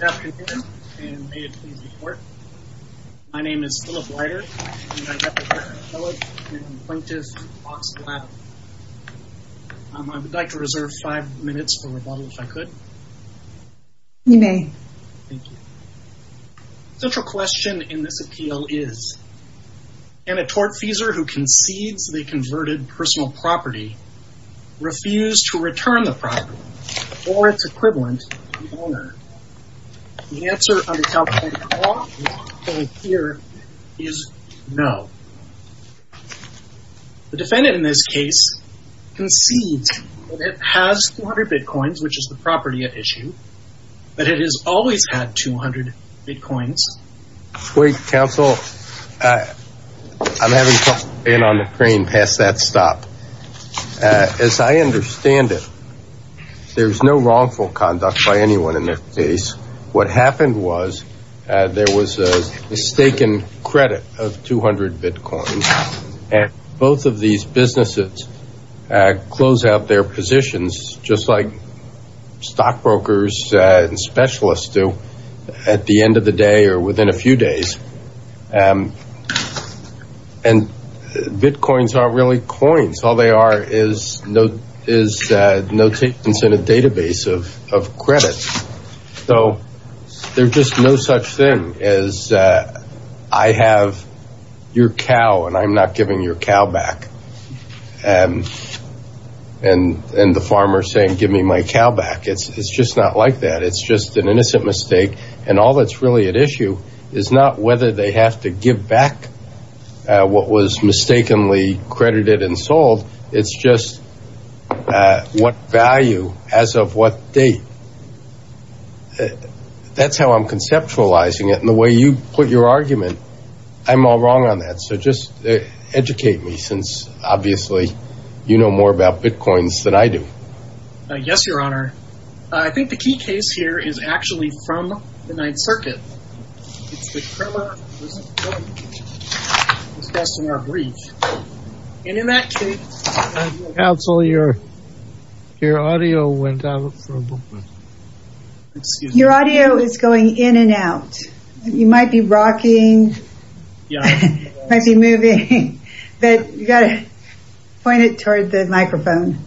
Good afternoon, and may it please the court, my name is Philip Leiter and I represent Appellate and Plaintiff Box Lab. I would like to reserve five minutes for rebuttal if I could. You may. Thank you. Central question in this appeal is, can a tortfeasor who concedes they converted personal property refuse to return the property or its equivalent to the owner? The answer under California law is no. The defendant in this case concedes that it has 200 bitcoins, which is the property at issue, but it has always had 200 bitcoins. Wait, counsel, I'm having trouble getting on the stop. As I understand it, there's no wrongful conduct by anyone in this case. What happened was there was a mistaken credit of 200 bitcoins, and both of these businesses close out their positions just like stockbrokers and specialists do at the end of the day or within a few days. And bitcoins aren't really coins. All they are is notations in a database of credit. So there's just no such thing as I have your cow and I'm not giving your cow back. And the farmer saying, give me my cow back. It's just not like that. It's just an innocent mistake. And all that's really at issue is not whether they have to give back what was mistakenly credited and sold. It's just what value as of what date. That's how I'm conceptualizing it. And the way you put your argument, I'm all wrong on that. So just educate me since obviously, you know more about bitcoins than I do. Yes, your honor. I think the key case here is actually from the Ninth Circuit. It's best in our brief. And in that case, counsel, your audio went out. Your audio is going in and out. You might be rocking. You might be moving. But you got to point it toward the microphone.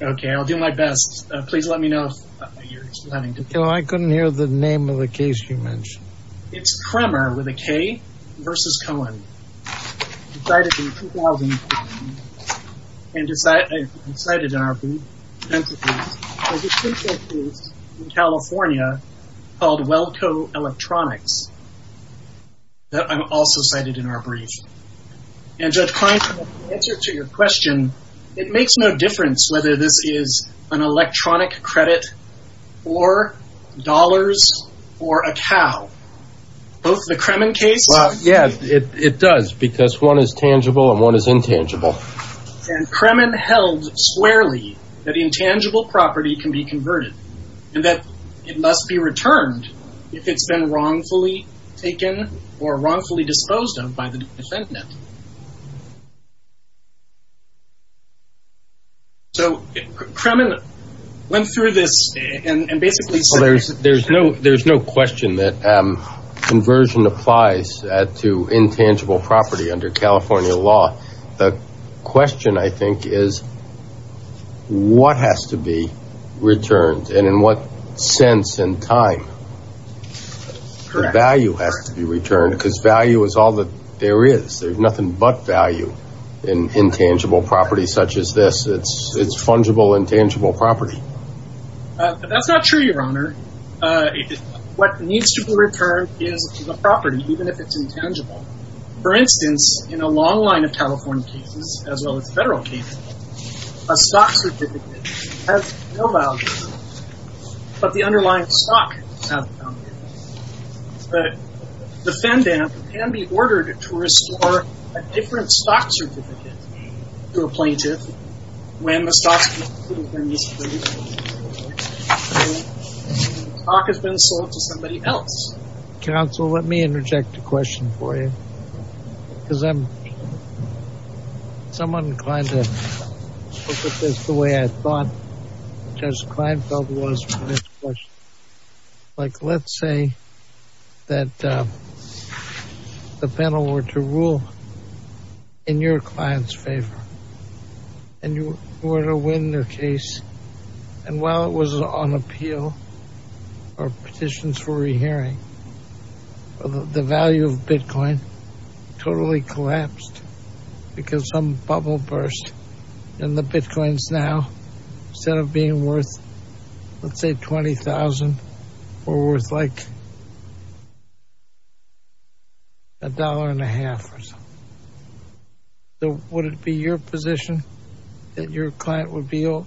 OK, I'll do my best. Please let me know if you're having to. I couldn't hear the name of the case you mentioned. It's Kramer with a K versus Cohen. Decided in 2000. And is that cited in our brief? California called Wellco Electronics. I'm also cited in our brief. And just trying to answer to your question, it makes no difference whether this is an electronic credit or dollars or a cow. Both the Kremen case. Yeah, it does. Because one is tangible and one is intangible. And Kremen held squarely that intangible property can be converted and that it must be returned if it's been wrongfully taken or wrongfully disposed of by the defendant. So Kremen went through this and basically there's no there's no question that conversion applies to intangible property under California law. The question, I think, is what has to be returned and in what sense and time? Value has to be returned because value is all that there is. There's nothing but value in intangible property such as this. It's fungible intangible property. But that's not true, Your Honor. What needs to be returned is the property, even if it's intangible. For instance, in a long line of California cases, as well as federal cases, a stock certificate has no value, but the underlying stock has value. But the defendant can be ordered to restore a different stock certificate to a plaintiff when the stock has been sold to somebody else. Counsel, let me interject a question for you because I'm somewhat inclined to look at this the way I thought Judge Kleinfeld was for this question. Like let's say that the panel were to rule in your client's favor and you were to win their case. And while it was on appeal or petitions for re-hearing, the value of Bitcoin totally collapsed because some bubble burst and the Bitcoins now, instead of being worth, let's say $20,000, were worth like a dollar and a half or so. So would it be your position that your client would be owed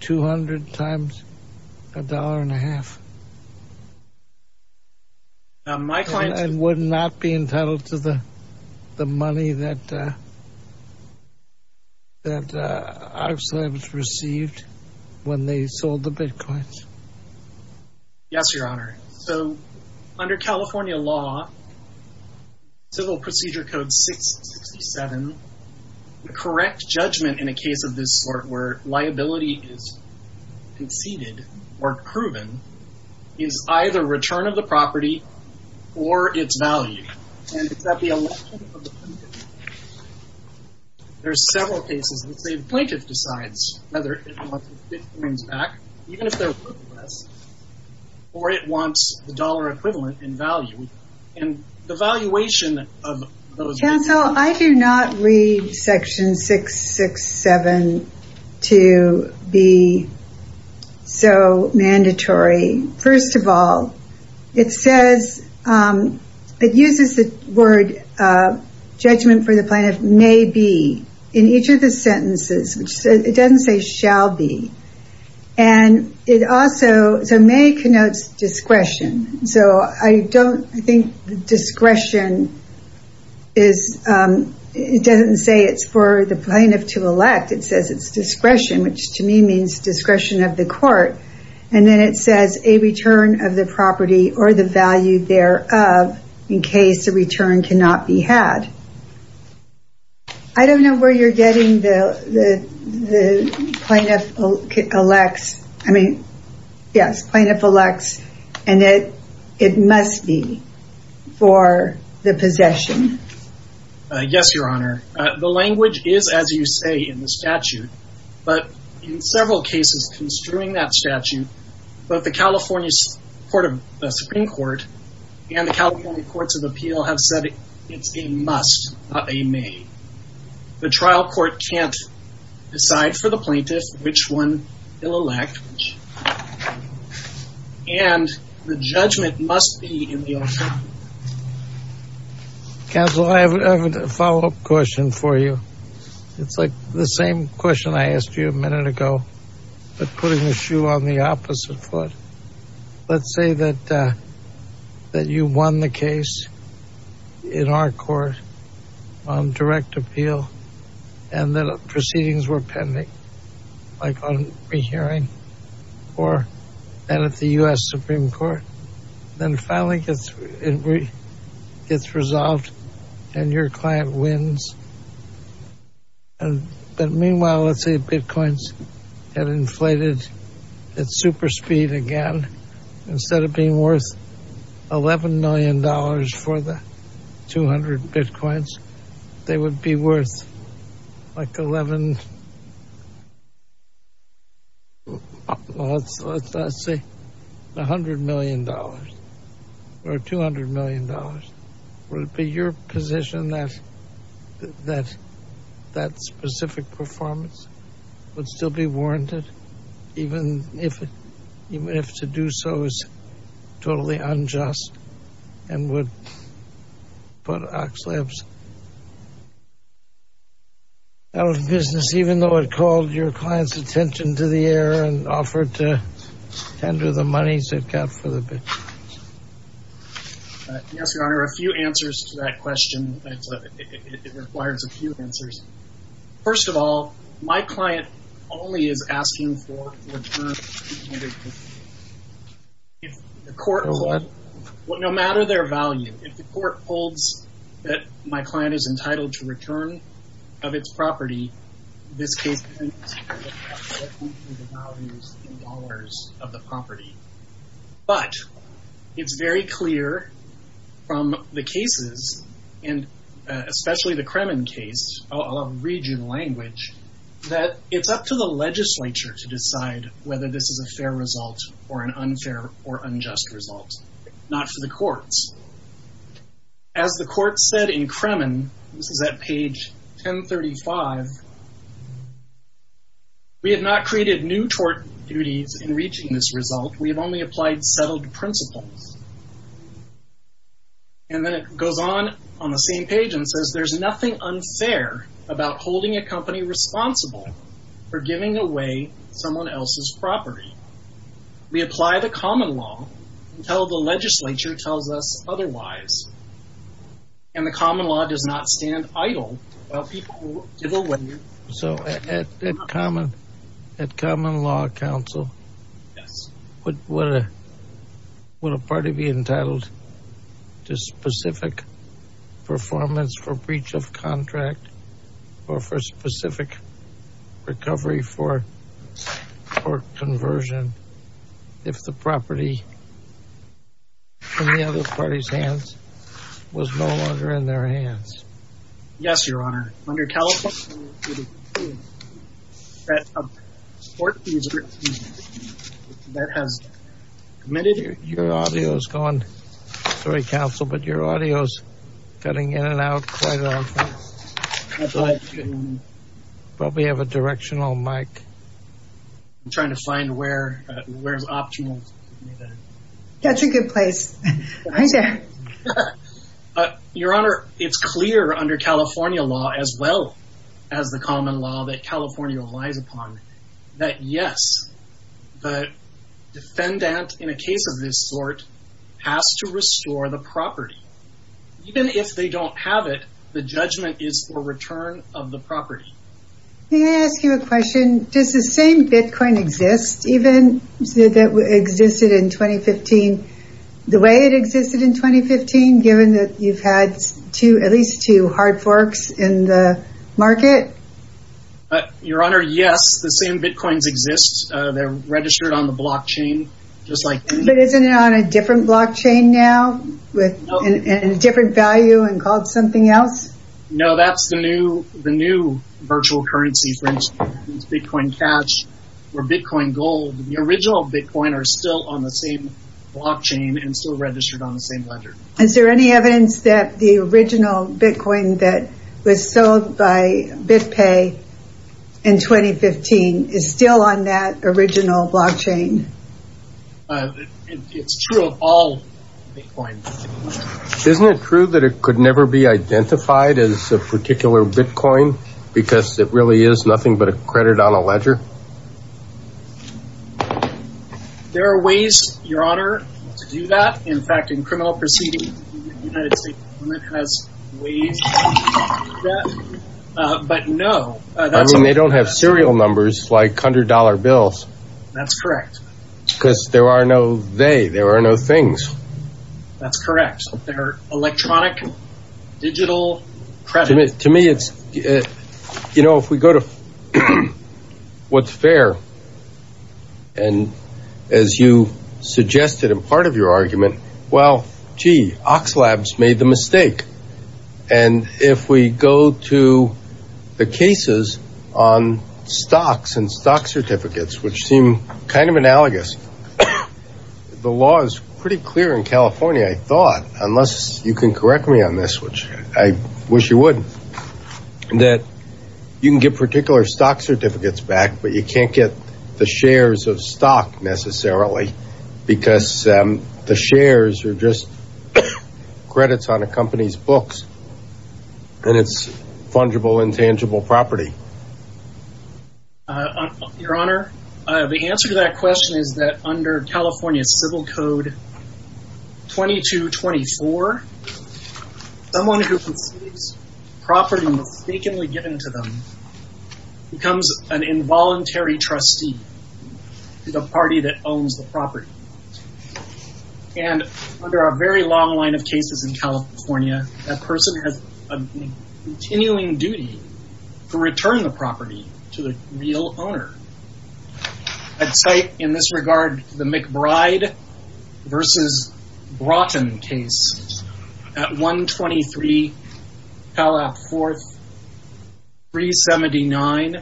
$200 times a dollar and a half? Now my client would not be entitled to the money that that our slaves received when they sold the Bitcoins. Yes, Your Honor. So under California law, Civil Procedure Code 667, the correct judgment in a case of this sort where liability is conceded or proven is either return of the property or its value. And it's at the election of the plaintiff. There's several cases, let's say the plaintiff decides whether it wants its Bitcoins back, even if they're worth less, or it wants the dollar equivalent in value. Counsel, I do not read section 667 to be so mandatory. First of all, it says, it uses the word judgment for the plaintiff may be in each of the sentences, it doesn't say shall be. And it also, so may connotes discretion. So I don't think discretion is, it doesn't say it's for the plaintiff to elect, it says it's discretion, which to me means discretion of the court. And then it says a return of the property or the value thereof, in case the return cannot be had. I don't know where you're getting the plaintiff elects. I mean, yes, plaintiff elects, and it must be for the possession. Yes, Your Honor. The language is as you say in the statute, but in several cases construing that statute, both the California Supreme Court and the California Courts of Appeal have said it's a must. Not a may. The trial court can't decide for the plaintiff, which one they'll elect. And the judgment must be in the alternative. Counsel, I have a follow-up question for you. It's like the same question I asked you a minute ago, but putting the shoe on the opposite foot. Let's say that you won the case in our court on direct appeal and the proceedings were pending, like on re-hearing or at the U.S. Supreme Court, then finally it gets resolved and your client wins. And then meanwhile, let's say bitcoins had inflated at super speed again, instead of being worth $11 million for the 200 bitcoins, they would be worth like 11, let's say $100 million or $200 million. Would it be your position that that specific performance would still be warranted, even if to do so is totally unjust and would put Oxlabs out of business, even though it called your client's attention to the error and offered to tender the monies it got for the bitcoins? Yes, Your Honor. A few answers to that question. It requires a few answers. First of all, my client only is asking for the return of the 200 bitcoins. If the court holds, no matter their value, if the court holds that my client is entitled to return of its property, this case doesn't include the values in dollars of the property. But it's very clear from the cases and especially the Kremen case, I'll read you the language, that it's up to the legislature to decide whether this is a fair result or an unfair or unjust result, not for the courts. As the court said in Kremen, this is at page 1035, We have not created new tort duties in reaching this result. We have only applied settled principles. And then it goes on on the same page and says, there's nothing unfair about holding a company responsible for giving away someone else's property. We apply the common law until the legislature tells us otherwise. And the common law does not stand idle while people give away. So at Common Law Council, would a party be entitled to specific performance for breach of contract or for specific recovery for tort conversion if the property in the other party's hands was no longer in their hands? Yes, Your Honor. Under California, a tort user that has committed... Your audio is gone. Sorry, counsel, but your audio is cutting in and out quite often. Probably have a directional mic. I'm trying to find where's optimal. That's a good place. Your Honor, it's clear under California law, as well as the common law that California relies upon, that yes, the defendant in a case of this sort has to restore the property. Even if they don't have it, the judgment is for return of the property. May I ask you a question? Does the same Bitcoin exist even that existed in 2015, the way it existed in 2015, given that you've had at least two hard forks in the market? Your Honor, yes, the same Bitcoins exist. They're registered on the blockchain, just like... But isn't it on a different blockchain now with a different value and called something else? No, that's the new virtual currency, for instance, Bitcoin Cash or Bitcoin Gold. The original Bitcoin are still on the same blockchain and still registered on the same ledger. Is there any evidence that the original Bitcoin that was sold by BitPay in 2015 is still on that original blockchain? It's true of all Bitcoins. Isn't it true that it could never be identified as a particular Bitcoin because it really is nothing but a credit on a ledger? There are ways, Your Honor, to do that. In fact, in criminal proceedings, the United States government has ways to do that. But no, that's... And they don't have serial numbers like hundred dollar bills. That's correct. Because there are no they, there are no things. That's correct. They're electronic, digital, credit. To me, it's, you know, if we go to what's fair, and as you suggested in part of your argument, well, gee, Oxlabs made the mistake. And if we go to the cases on stocks and stock certificates, which seem kind of analogous, and the law is pretty clear in California, I thought, unless you can correct me on this, which I wish you would, that you can get particular stock certificates back, but you can't get the shares of stock necessarily, because the shares are just credits on a company's books. And it's fungible, intangible property. Your Honor, the answer to that question is that under California Civil Code 2224, someone who concedes property mistakenly given to them becomes an involuntary trustee to the party that owns the property. And under a very long line of cases in California, that person has a continuing duty to return the property to the real owner. I'd cite in this regard the McBride v. Broughton case at 123 Palap 4th 379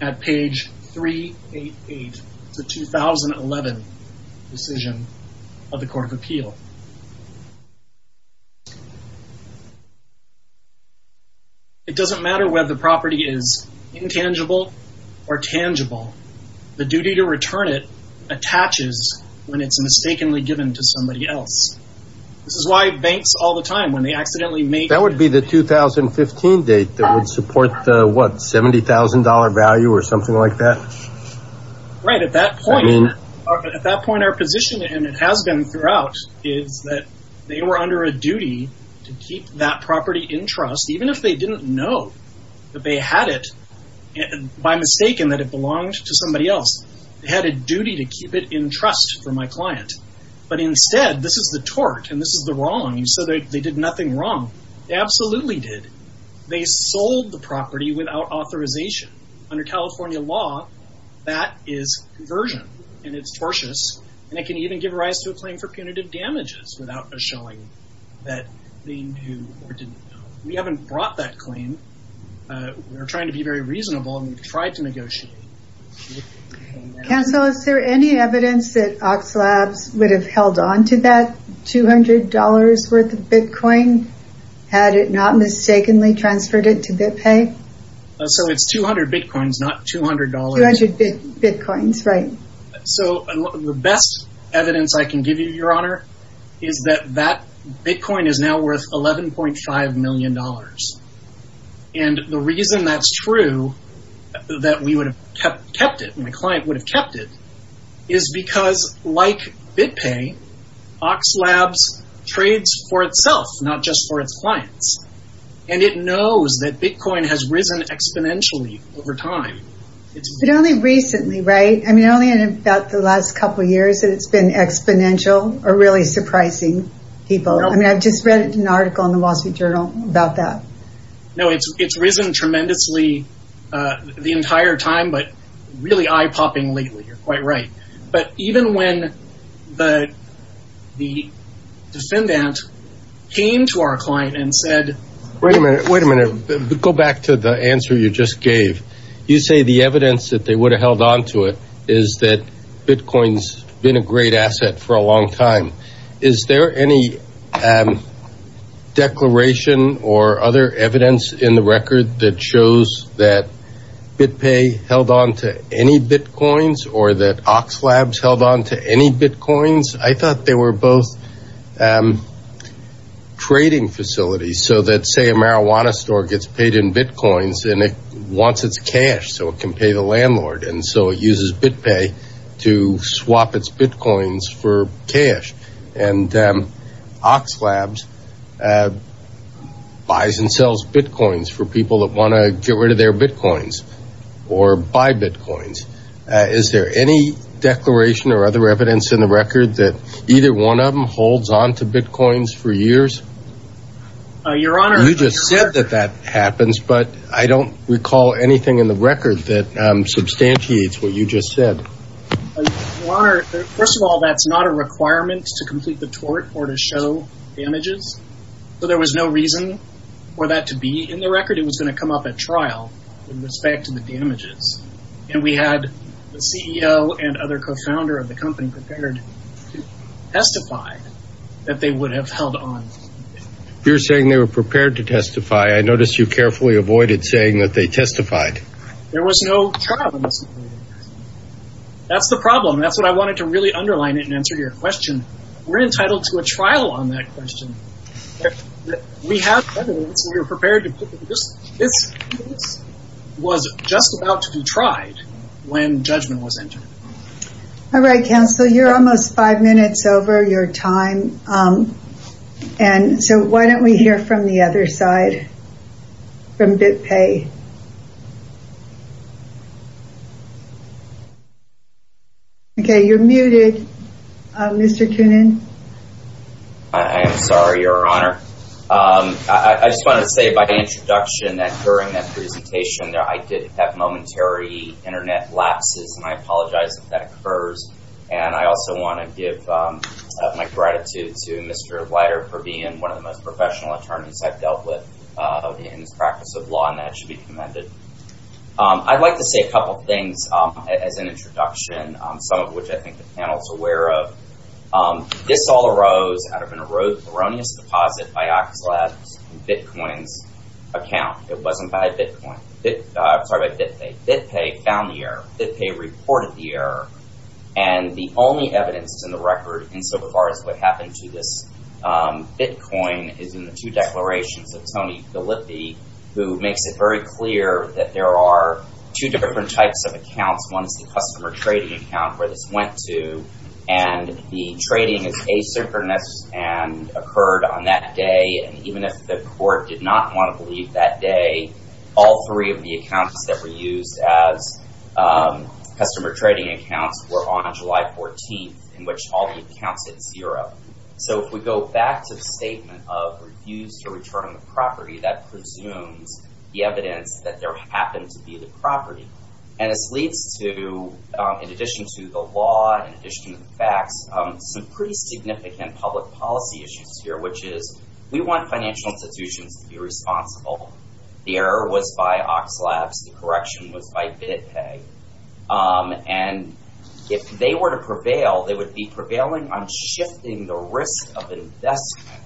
at page 388. It's a 2011 decision of the Court of Appeal. It doesn't matter whether the property is intangible or tangible. The duty to return it attaches when it's mistakenly given to somebody else. This is why banks all the time, when they accidentally make... That would be the 2015 date that would support the, what, $70,000 value or something like that? Right. At that point, our position, and it has been throughout, is that they were under a duty to keep that property in trust, even if they didn't know that they had it, by mistaking that it belonged to somebody else. They had a duty to keep it in trust for my client. But instead, this is the tort, and this is the wrong, so they did nothing wrong. They absolutely did. They sold the property without authorization. Under California law, that is conversion, and it's tortious, and it can even give rise to a claim for punitive damages without us showing that they knew or didn't know. We haven't brought that claim. We're trying to be very reasonable, and we've tried to negotiate. Counsel, is there any evidence that Oxlabs would have held on to that $200 worth of Bitcoin had it not mistakenly transferred it to BitPay? So it's 200 Bitcoins, not $200. 200 Bitcoins, right. So the best evidence I can give you, Your Honor, is that that Bitcoin is now worth $11.5 million. And the reason that's true, that we would have kept it, my client would have kept it, is because like BitPay, Oxlabs trades for itself, not just for its clients. And it knows that Bitcoin has risen exponentially over time. But only recently, right? I mean, only in about the last couple of years that it's been exponential or really surprising people. I mean, I've just read an article in the Wall Street Journal about that. No, it's risen tremendously the entire time, but really eye-popping lately. You're quite right. But even when the defendant came to our client and said... Wait a minute. Wait a minute. Go back to the answer you just gave. You say the evidence that they would have held on to it is that Bitcoin's been a great asset for a long time. Is there any declaration or other evidence in the record that shows that BitPay held on to any Bitcoins or that Oxlabs held on to any Bitcoins? I thought they were both trading facilities. So that, say, a marijuana store gets paid in Bitcoins and it wants its cash so it can pay the landlord. And so it uses BitPay to swap its Bitcoins for cash. And Oxlabs buys and sells Bitcoins for people that want to get rid of their Bitcoins or buy Bitcoins. Is there any declaration or other evidence in the record that either one of them holds on to Bitcoins for years? Your Honor... You just said that that happens, but I don't recall anything in the record that substantiates what you just said. Your Honor, first of all, that's not a requirement to complete the tort or to show damages. So there was no reason for that to be in the record. It was going to come up at trial with respect to the damages. And we had the CEO and other co-founder of the company prepared to testify that they would have held on. You're saying they were prepared to testify. I noticed you carefully avoided saying that they testified. There was no trial. That's the problem. That's what I wanted to really underline it and answer your question. We're entitled to a trial on that question. We have evidence. We were prepared to... This was just about to be tried when judgment was entered. All right, counsel, you're almost five minutes over your time. And so why don't we hear from the other side? From BitPay. Okay, you're muted, Mr. Kunin. I am sorry, Your Honor. I just wanted to say by introduction that during that presentation that I did have momentary internet lapses, and I apologize if that occurs. And I also want to give my gratitude to Mr. Leiter for being one of the most professional attorneys I've dealt with in this practice of law, and that should be commended. I'd like to say a couple of things as an introduction, some of which I think the panel is aware of. This all arose out of an erroneous deposit by Axelad in Bitcoin's account. It wasn't by Bitcoin. I'm sorry, by BitPay. BitPay found the error. BitPay reported the error. And the only evidence in the record insofar as what happened to this Bitcoin is in the two declarations of Tony Gallippi, who makes it very clear that there are two different types of accounts. One is the customer trading account where this went to, and the trading is asynchronous and occurred on that day. And even if the court did not want to believe that day, all three of the accounts that were used as customer trading accounts were on July 14th, in which all the accounts hit zero. So if we go back to the statement of refuse to return the property, that presumes the evidence that there happened to be the property. And this leads to, in addition to the law, in addition to the facts, some pretty significant public policy issues here, which is we want financial institutions to be responsible. The error was by Axelad's. The correction was by BitPay. And if they were to prevail, they would be prevailing on shifting the risk of investment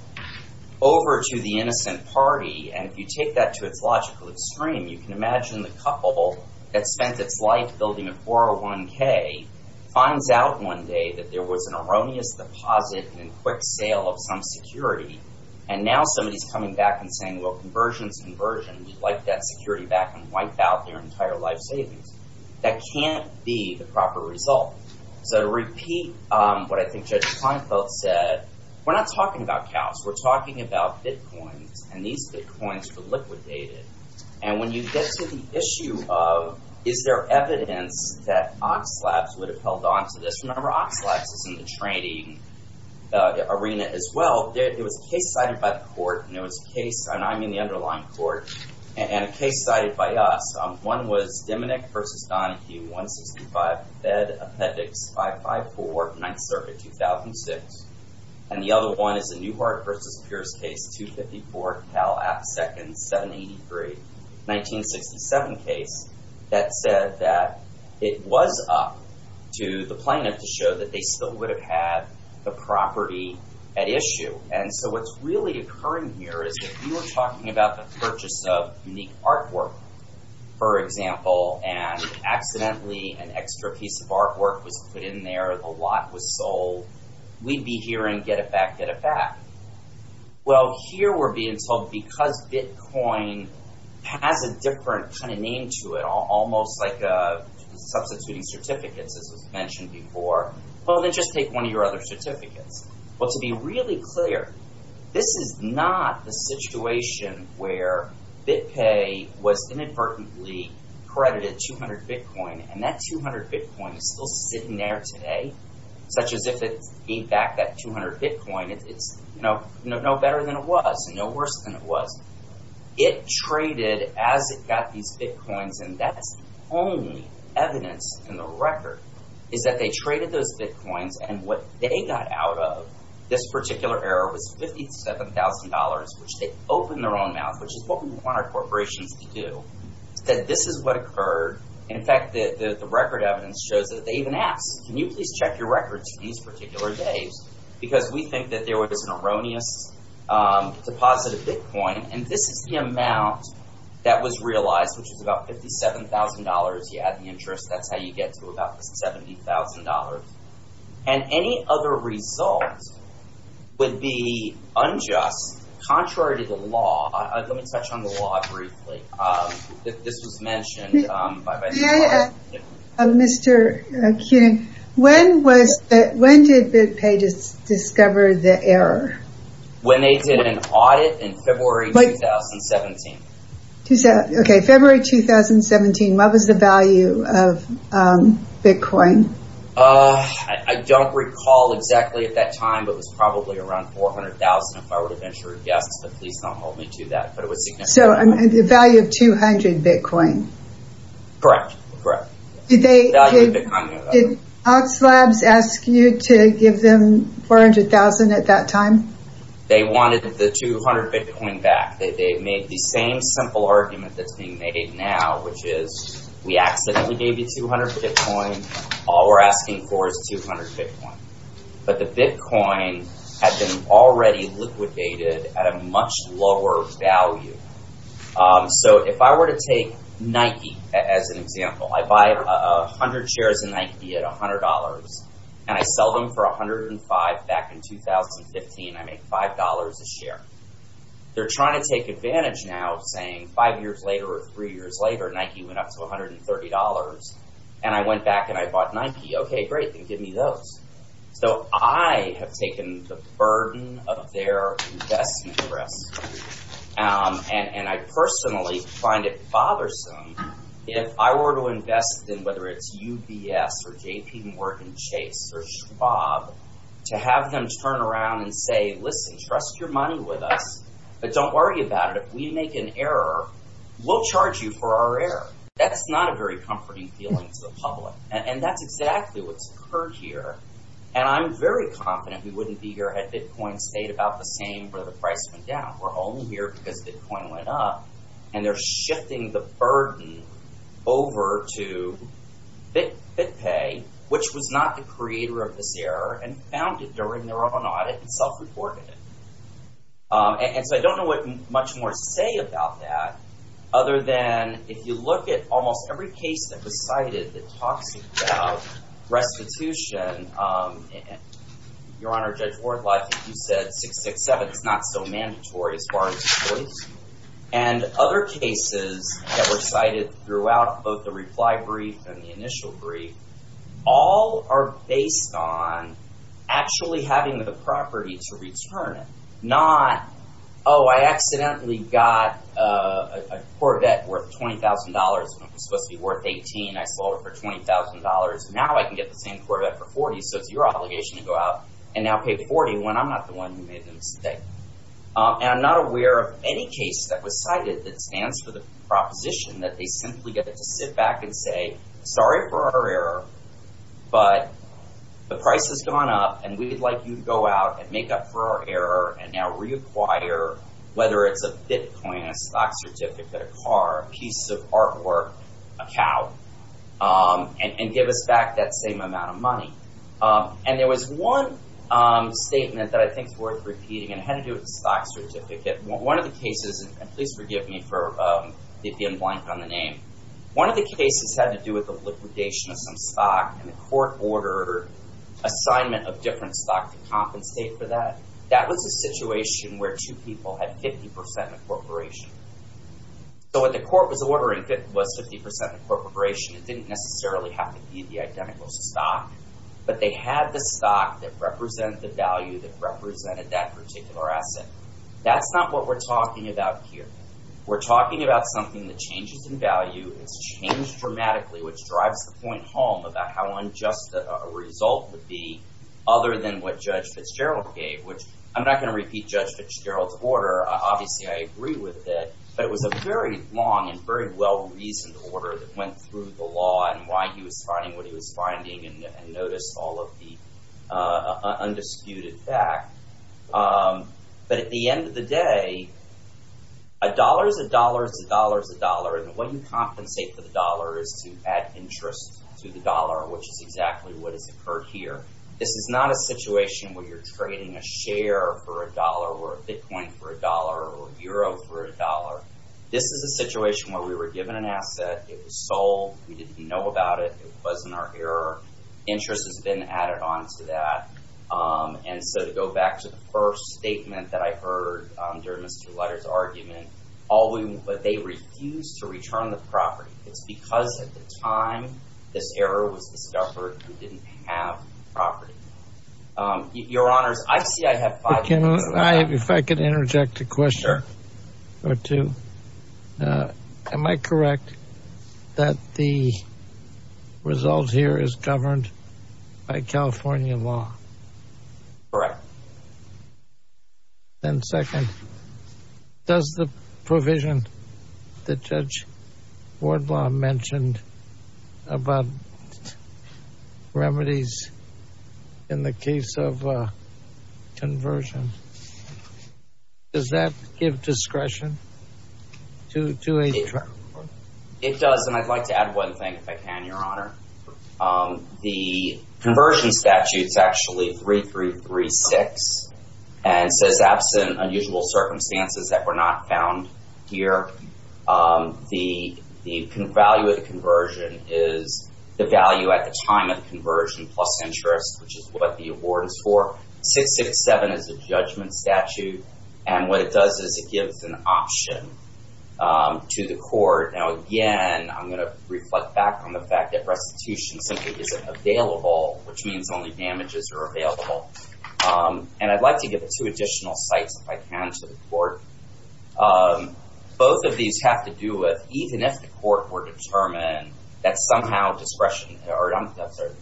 over to the innocent party. And if you take that to its logical extreme, you can imagine the couple that spent its life building a 401k finds out one day that there was an erroneous deposit and quick sale of some security. And now somebody's coming back and saying, well, conversion's conversion. We'd like that security back and wipe out their entire life savings. That can't be the proper result. So to repeat what I think Judge Kleinfeld said, we're not talking about cows. We're talking about Bitcoins. And these Bitcoins were liquidated. And when you get to the issue of, is there evidence that Oxalabs would have held on to this? Remember, Oxalabs is in the trading arena as well. It was case cited by the court. And it was a case, and I'm in the underlying court, and a case cited by us. One was Domenick versus Donahue, 165 Fed Appendix 554, Ninth Circuit, 2006. And the other one is a Newhart versus Pierce case, 254 Cal App Second, 783, 1967 case that said that it was up to the plaintiff to show that they still would have had the property at issue. And so what's really occurring here is if we were talking about the purchase of unique artwork, for example, and accidentally an extra piece of artwork was put in there, the lot was sold, we'd be hearing get it back, get it back. Well, here we're being told because Bitcoin has a different kind of name to it, almost like substituting certificates as was mentioned before, well, then just take one of your other certificates. But to be really clear, this is not the situation where BitPay was inadvertently credited 200 Bitcoin, and that 200 Bitcoin is still sitting there today, such as if it gave back that 200 Bitcoin, it's no better than it was, no worse than it was. It traded as it got these Bitcoins, and that's only evidence in the record is that they traded those Bitcoins and what they got out of this particular error was $57,000, which they opened their own mouth, which is what we want our corporations to do, said this is what occurred. In fact, the record evidence shows that they even asked, can you please check your records for these particular days? Because we think that there was an erroneous deposit of Bitcoin, and this is the amount that was realized, which is about $57,000. You add the interest, that's how you get to about $70,000. And any other result would be unjust, contrary to the law. Let me touch on the law briefly. This was mentioned by... Can I ask, Mr. Kuhn, when did BitPay discover the error? When they did an audit in February 2017. Okay, February 2017, what was the value of Bitcoin? I don't recall exactly at that time, but it was probably around 400,000 if I would have been sure. Yes, but please don't hold me to that. But it was significant. So the value of 200 Bitcoin? Correct, correct. Did Oxlabs ask you to give them 400,000 at that time? They wanted the 200 Bitcoin back. They made the same simple argument that's being made now, which is we accidentally gave you 200 Bitcoin, all we're asking for is 200 Bitcoin. But the Bitcoin had been already liquidated at a much lower value. So if I were to take Nike as an example, I buy 100 shares of Nike at $100, and I sell them for 105 back in 2015, I make $5 a share. They're trying to take advantage now saying five years later or three years later, Nike went up to $130. And I went back and I bought Nike. Okay, great, then give me those. So I have taken the burden of their investment risks. And I personally find it bothersome if I were to invest in whether it's UBS or JP Morgan Chase or Schwab to have them turn around and say, listen, trust your money with us. But don't worry about it. If we make an error, we'll charge you for our error. That's not a very comforting feeling to the public. And that's exactly what's occurred here. And I'm very confident we wouldn't be here had Bitcoin stayed about the same where the price went down. We're only here because Bitcoin went up and they're shifting the burden over to BitPay, which was not the creator of this error and found it during their own audit and self-reported it. And so I don't know what much more to say about that other than if you look at almost every case that was cited that talks about restitution. Your Honor, Judge Wardlock, you said 667 is not so mandatory as far as the choice. And other cases that were cited throughout both the reply brief and the initial brief, all are based on actually having the property to return it, not, oh, I accidentally got a Corvette worth $20,000 when it was supposed to be worth 18. I sold it for $20,000. Now I can get the same Corvette for 40. So it's your obligation to go out and now pay 40 when I'm not the one who made the mistake. And I'm not aware of any case that was cited that stands for the proposition that they simply get to sit back and say, sorry for our error, but the price has gone up and we'd like you to go out and make up for our error and now reacquire, whether it's a Bitcoin, a stock certificate, a car, a piece of artwork, a cow, and give us back that same amount of money. And there was one statement that I think is worth repeating and had to do with the stock certificate. One of the cases, and please forgive me for it being blank on the name. One of the cases had to do with the liquidation of some stock and the court ordered assignment of different stock to compensate for that. That was a situation where two people had 50% incorporation. So what the court was ordering was 50% incorporation. It didn't necessarily have to be the identical stock, but they had the stock that represent the value that represented that particular asset. That's not what we're talking about here. We're talking about something that changes in value. It's changed dramatically, which drives the point home about how unjust a result would be other than what Judge Fitzgerald gave, which I'm not going to repeat Judge Fitzgerald's order. Obviously, I agree with it, but it was a very long and very well-reasoned order that went through the law and why he was finding what he was finding and noticed all of the undisputed fact. But at the end of the day, a dollar is a dollar is a dollar is a dollar. And what you compensate for the dollar is to add interest to the dollar, which is exactly what has occurred here. This is not a situation where you're trading a share for a dollar or a bitcoin for a dollar or a euro for a dollar. This is a situation where we were given an asset. It was sold. We didn't know about it. It wasn't our error. Interest has been added on to that. And so to go back to the first statement that I heard during Mr. Lutter's argument, but they refused to return the property. It's because at the time this error was discovered, we didn't have property. Your honors, I see. I have if I could interject a question or two. Am I correct that the result here is governed by California law? Correct. And second, does the provision that Judge Wardlaw mentioned about remedies in the case of conversion, does that give discretion to a trial? It does. And I'd like to add one thing, if I can, Your Honor. The conversion statute is actually 3336 and says absent unusual circumstances that were not found here. The value of the conversion is the value at the time of conversion plus interest, which is what the award is for. 667 is a judgment statute. And what it does is it gives an option to the court. Now, again, I'm going to reflect back on the fact that restitution simply isn't available, which means only damages are available. And I'd like to give two additional sites, if I can, to the court. Both of these have to do with even if the court were determined that somehow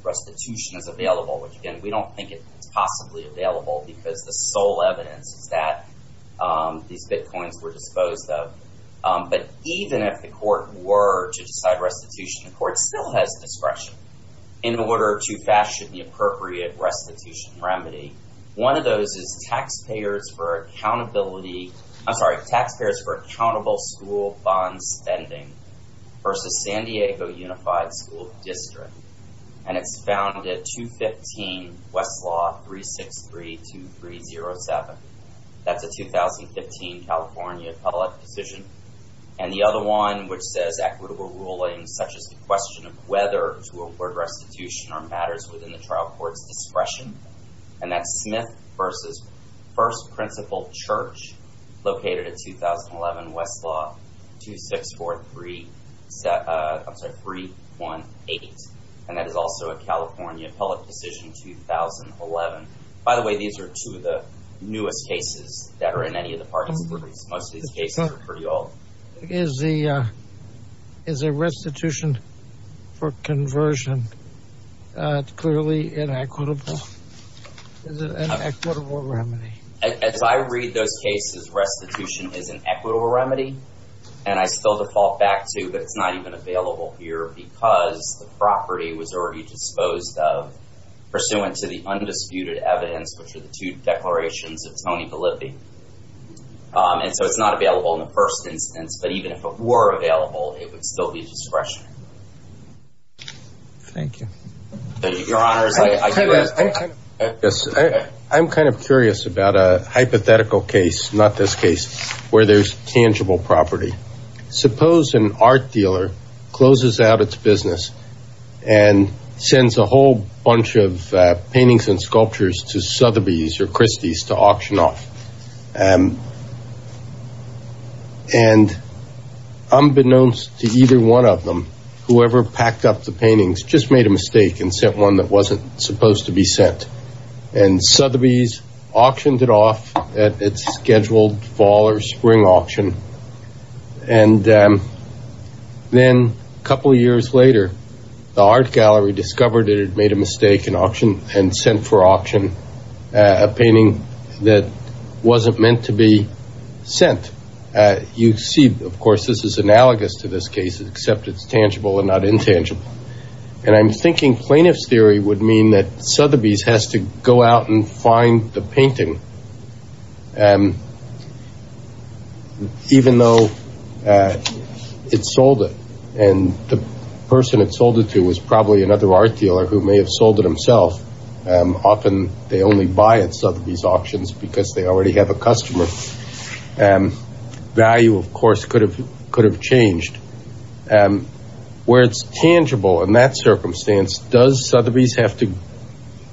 restitution is available, which again, we don't think it's possibly available because the sole evidence is that these bitcoins were disposed of. But even if the court were to decide restitution, the court still has discretion in order to fashion the appropriate restitution remedy. One of those is taxpayers for accountability taxpayers for accountable school bond spending versus San Diego Unified School District. And it's found at 215 Westlaw 363-2307. That's a 2015 California public decision. And the other one, which says equitable rulings, such as the question of whether to award restitution are matters within the trial court's discretion. And that's Smith versus First Principal Church. Located at 2011 Westlaw 2643, I'm sorry, 318. And that is also a California public decision, 2011. By the way, these are two of the newest cases that are in any of the parties. Most of these cases are pretty old. Is the restitution for conversion clearly inequitable? Is it an equitable remedy? As I read those cases, restitution is an equitable remedy. And I still default back to, but it's not even available here because the property was already disposed of pursuant to the undisputed evidence, which are the two declarations of Tony Bolivi. And so it's not available in the first instance. But even if it were available, it would still be discretionary. Thank you. So your honors, I do have... I'm kind of curious about a hypothetical case, not this case, where there's tangible property. Suppose an art dealer closes out its business and sends a whole bunch of paintings and sculptures to Sotheby's or Christie's to auction off. And unbeknownst to either one of them, whoever packed up the paintings just made a mistake and sent one that wasn't supposed to be sent. And Sotheby's auctioned it off at its scheduled fall or spring auction. And then a couple of years later, the art gallery discovered it had made a mistake and auctioned and sent for auction a painting that wasn't meant to be sent. You see, of course, this is analogous to this case, except it's tangible and not intangible. And I'm thinking plaintiff's theory would mean that Sotheby's has to go out and find the painting, even though it sold it. And the person it sold it to was probably another art dealer who may have sold it himself. Often they only buy at Sotheby's auctions because they already have a customer. Value, of course, could have changed. Where it's tangible in that circumstance, does Sotheby's have to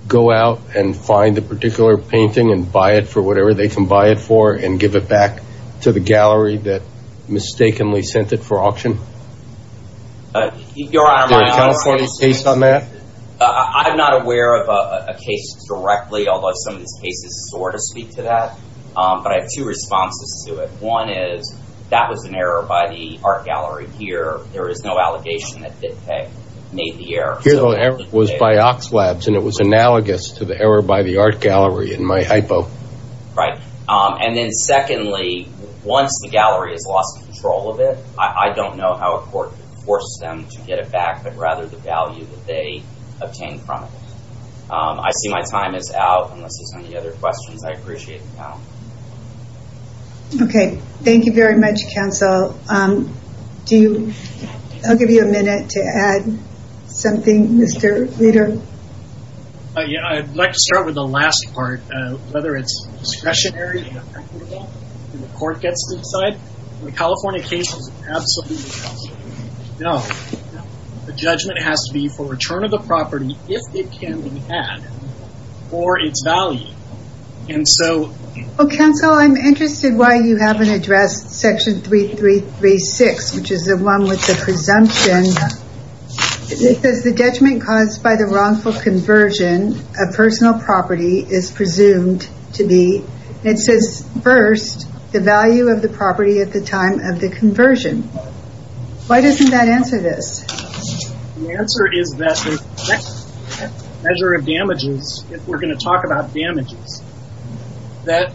go out and find the particular painting and buy it for whatever they can buy it for and give it back to the gallery that mistakenly sent it for auction? Your Honor, I'm not aware of a case directly, although some of these cases sort of speak to that. But I have two responses to it. One is that was an error by the art gallery here. There is no allegation that they made the error. The error was by Oxlabs, and it was analogous to the error by the art gallery in my hypo. Right. And then secondly, once the gallery has lost control of it, I don't know how a court could force them to get it back, but rather the value that they obtained from it. I see my time is out. Unless there's any other questions, I appreciate the panel. Okay. Thank you very much, counsel. I'll give you a minute to add something, Mr. Leader. I'd like to start with the last part, whether it's discretionary, and the court gets to decide. The California case is absolutely not. No. The judgment has to be for return of the property, if it can be had, for its value. And so... Counsel, I'm interested why you haven't addressed section 3336, which is the one with the presumption. It says the detriment caused by the wrongful conversion of personal property is presumed to be, it says first, the value of the property at the time of the conversion. Why doesn't that answer this? The answer is that the next measure of damages, if we're going to talk about damages, that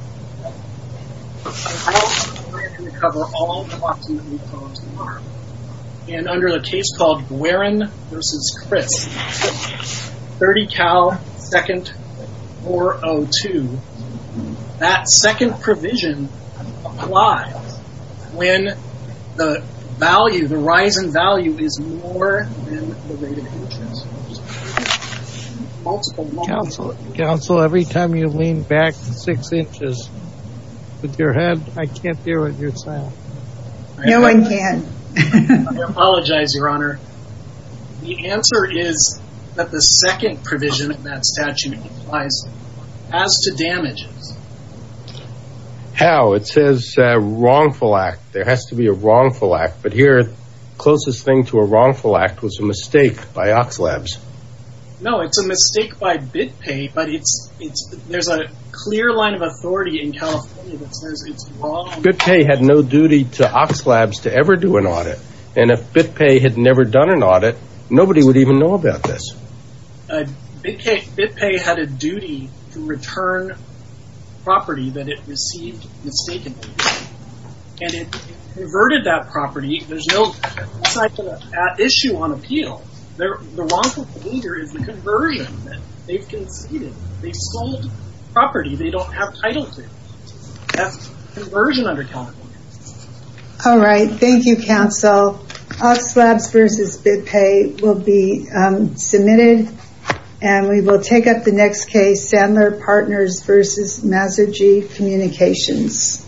and under the case called Guerin v. Crisp, 30 Cal 2nd 402, that second provision applies when the value, Counsel, every time you lean back six inches with your head, I can't hear what you're saying. No, I can. I apologize, Your Honor. The answer is that the second provision in that statute applies as to damages. How? It says wrongful act. There has to be a wrongful act. But here, the closest thing to a wrongful act was a mistake by Oxlabs. No, it's a mistake by BitPay, but there's a clear line of authority in California that says it's wrongful. BitPay had no duty to Oxlabs to ever do an audit. And if BitPay had never done an audit, nobody would even know about this. BitPay had a duty to return property that it received mistakenly. And it converted that property. There's no issue on appeal. The wrongful behavior is the conversion that they've conceded. They sold property they don't have title to. That's conversion under California. All right. Thank you, Counsel. Oxlabs versus BitPay will be submitted. And we will take up the next case, Sandler Partners versus Masergi Communications.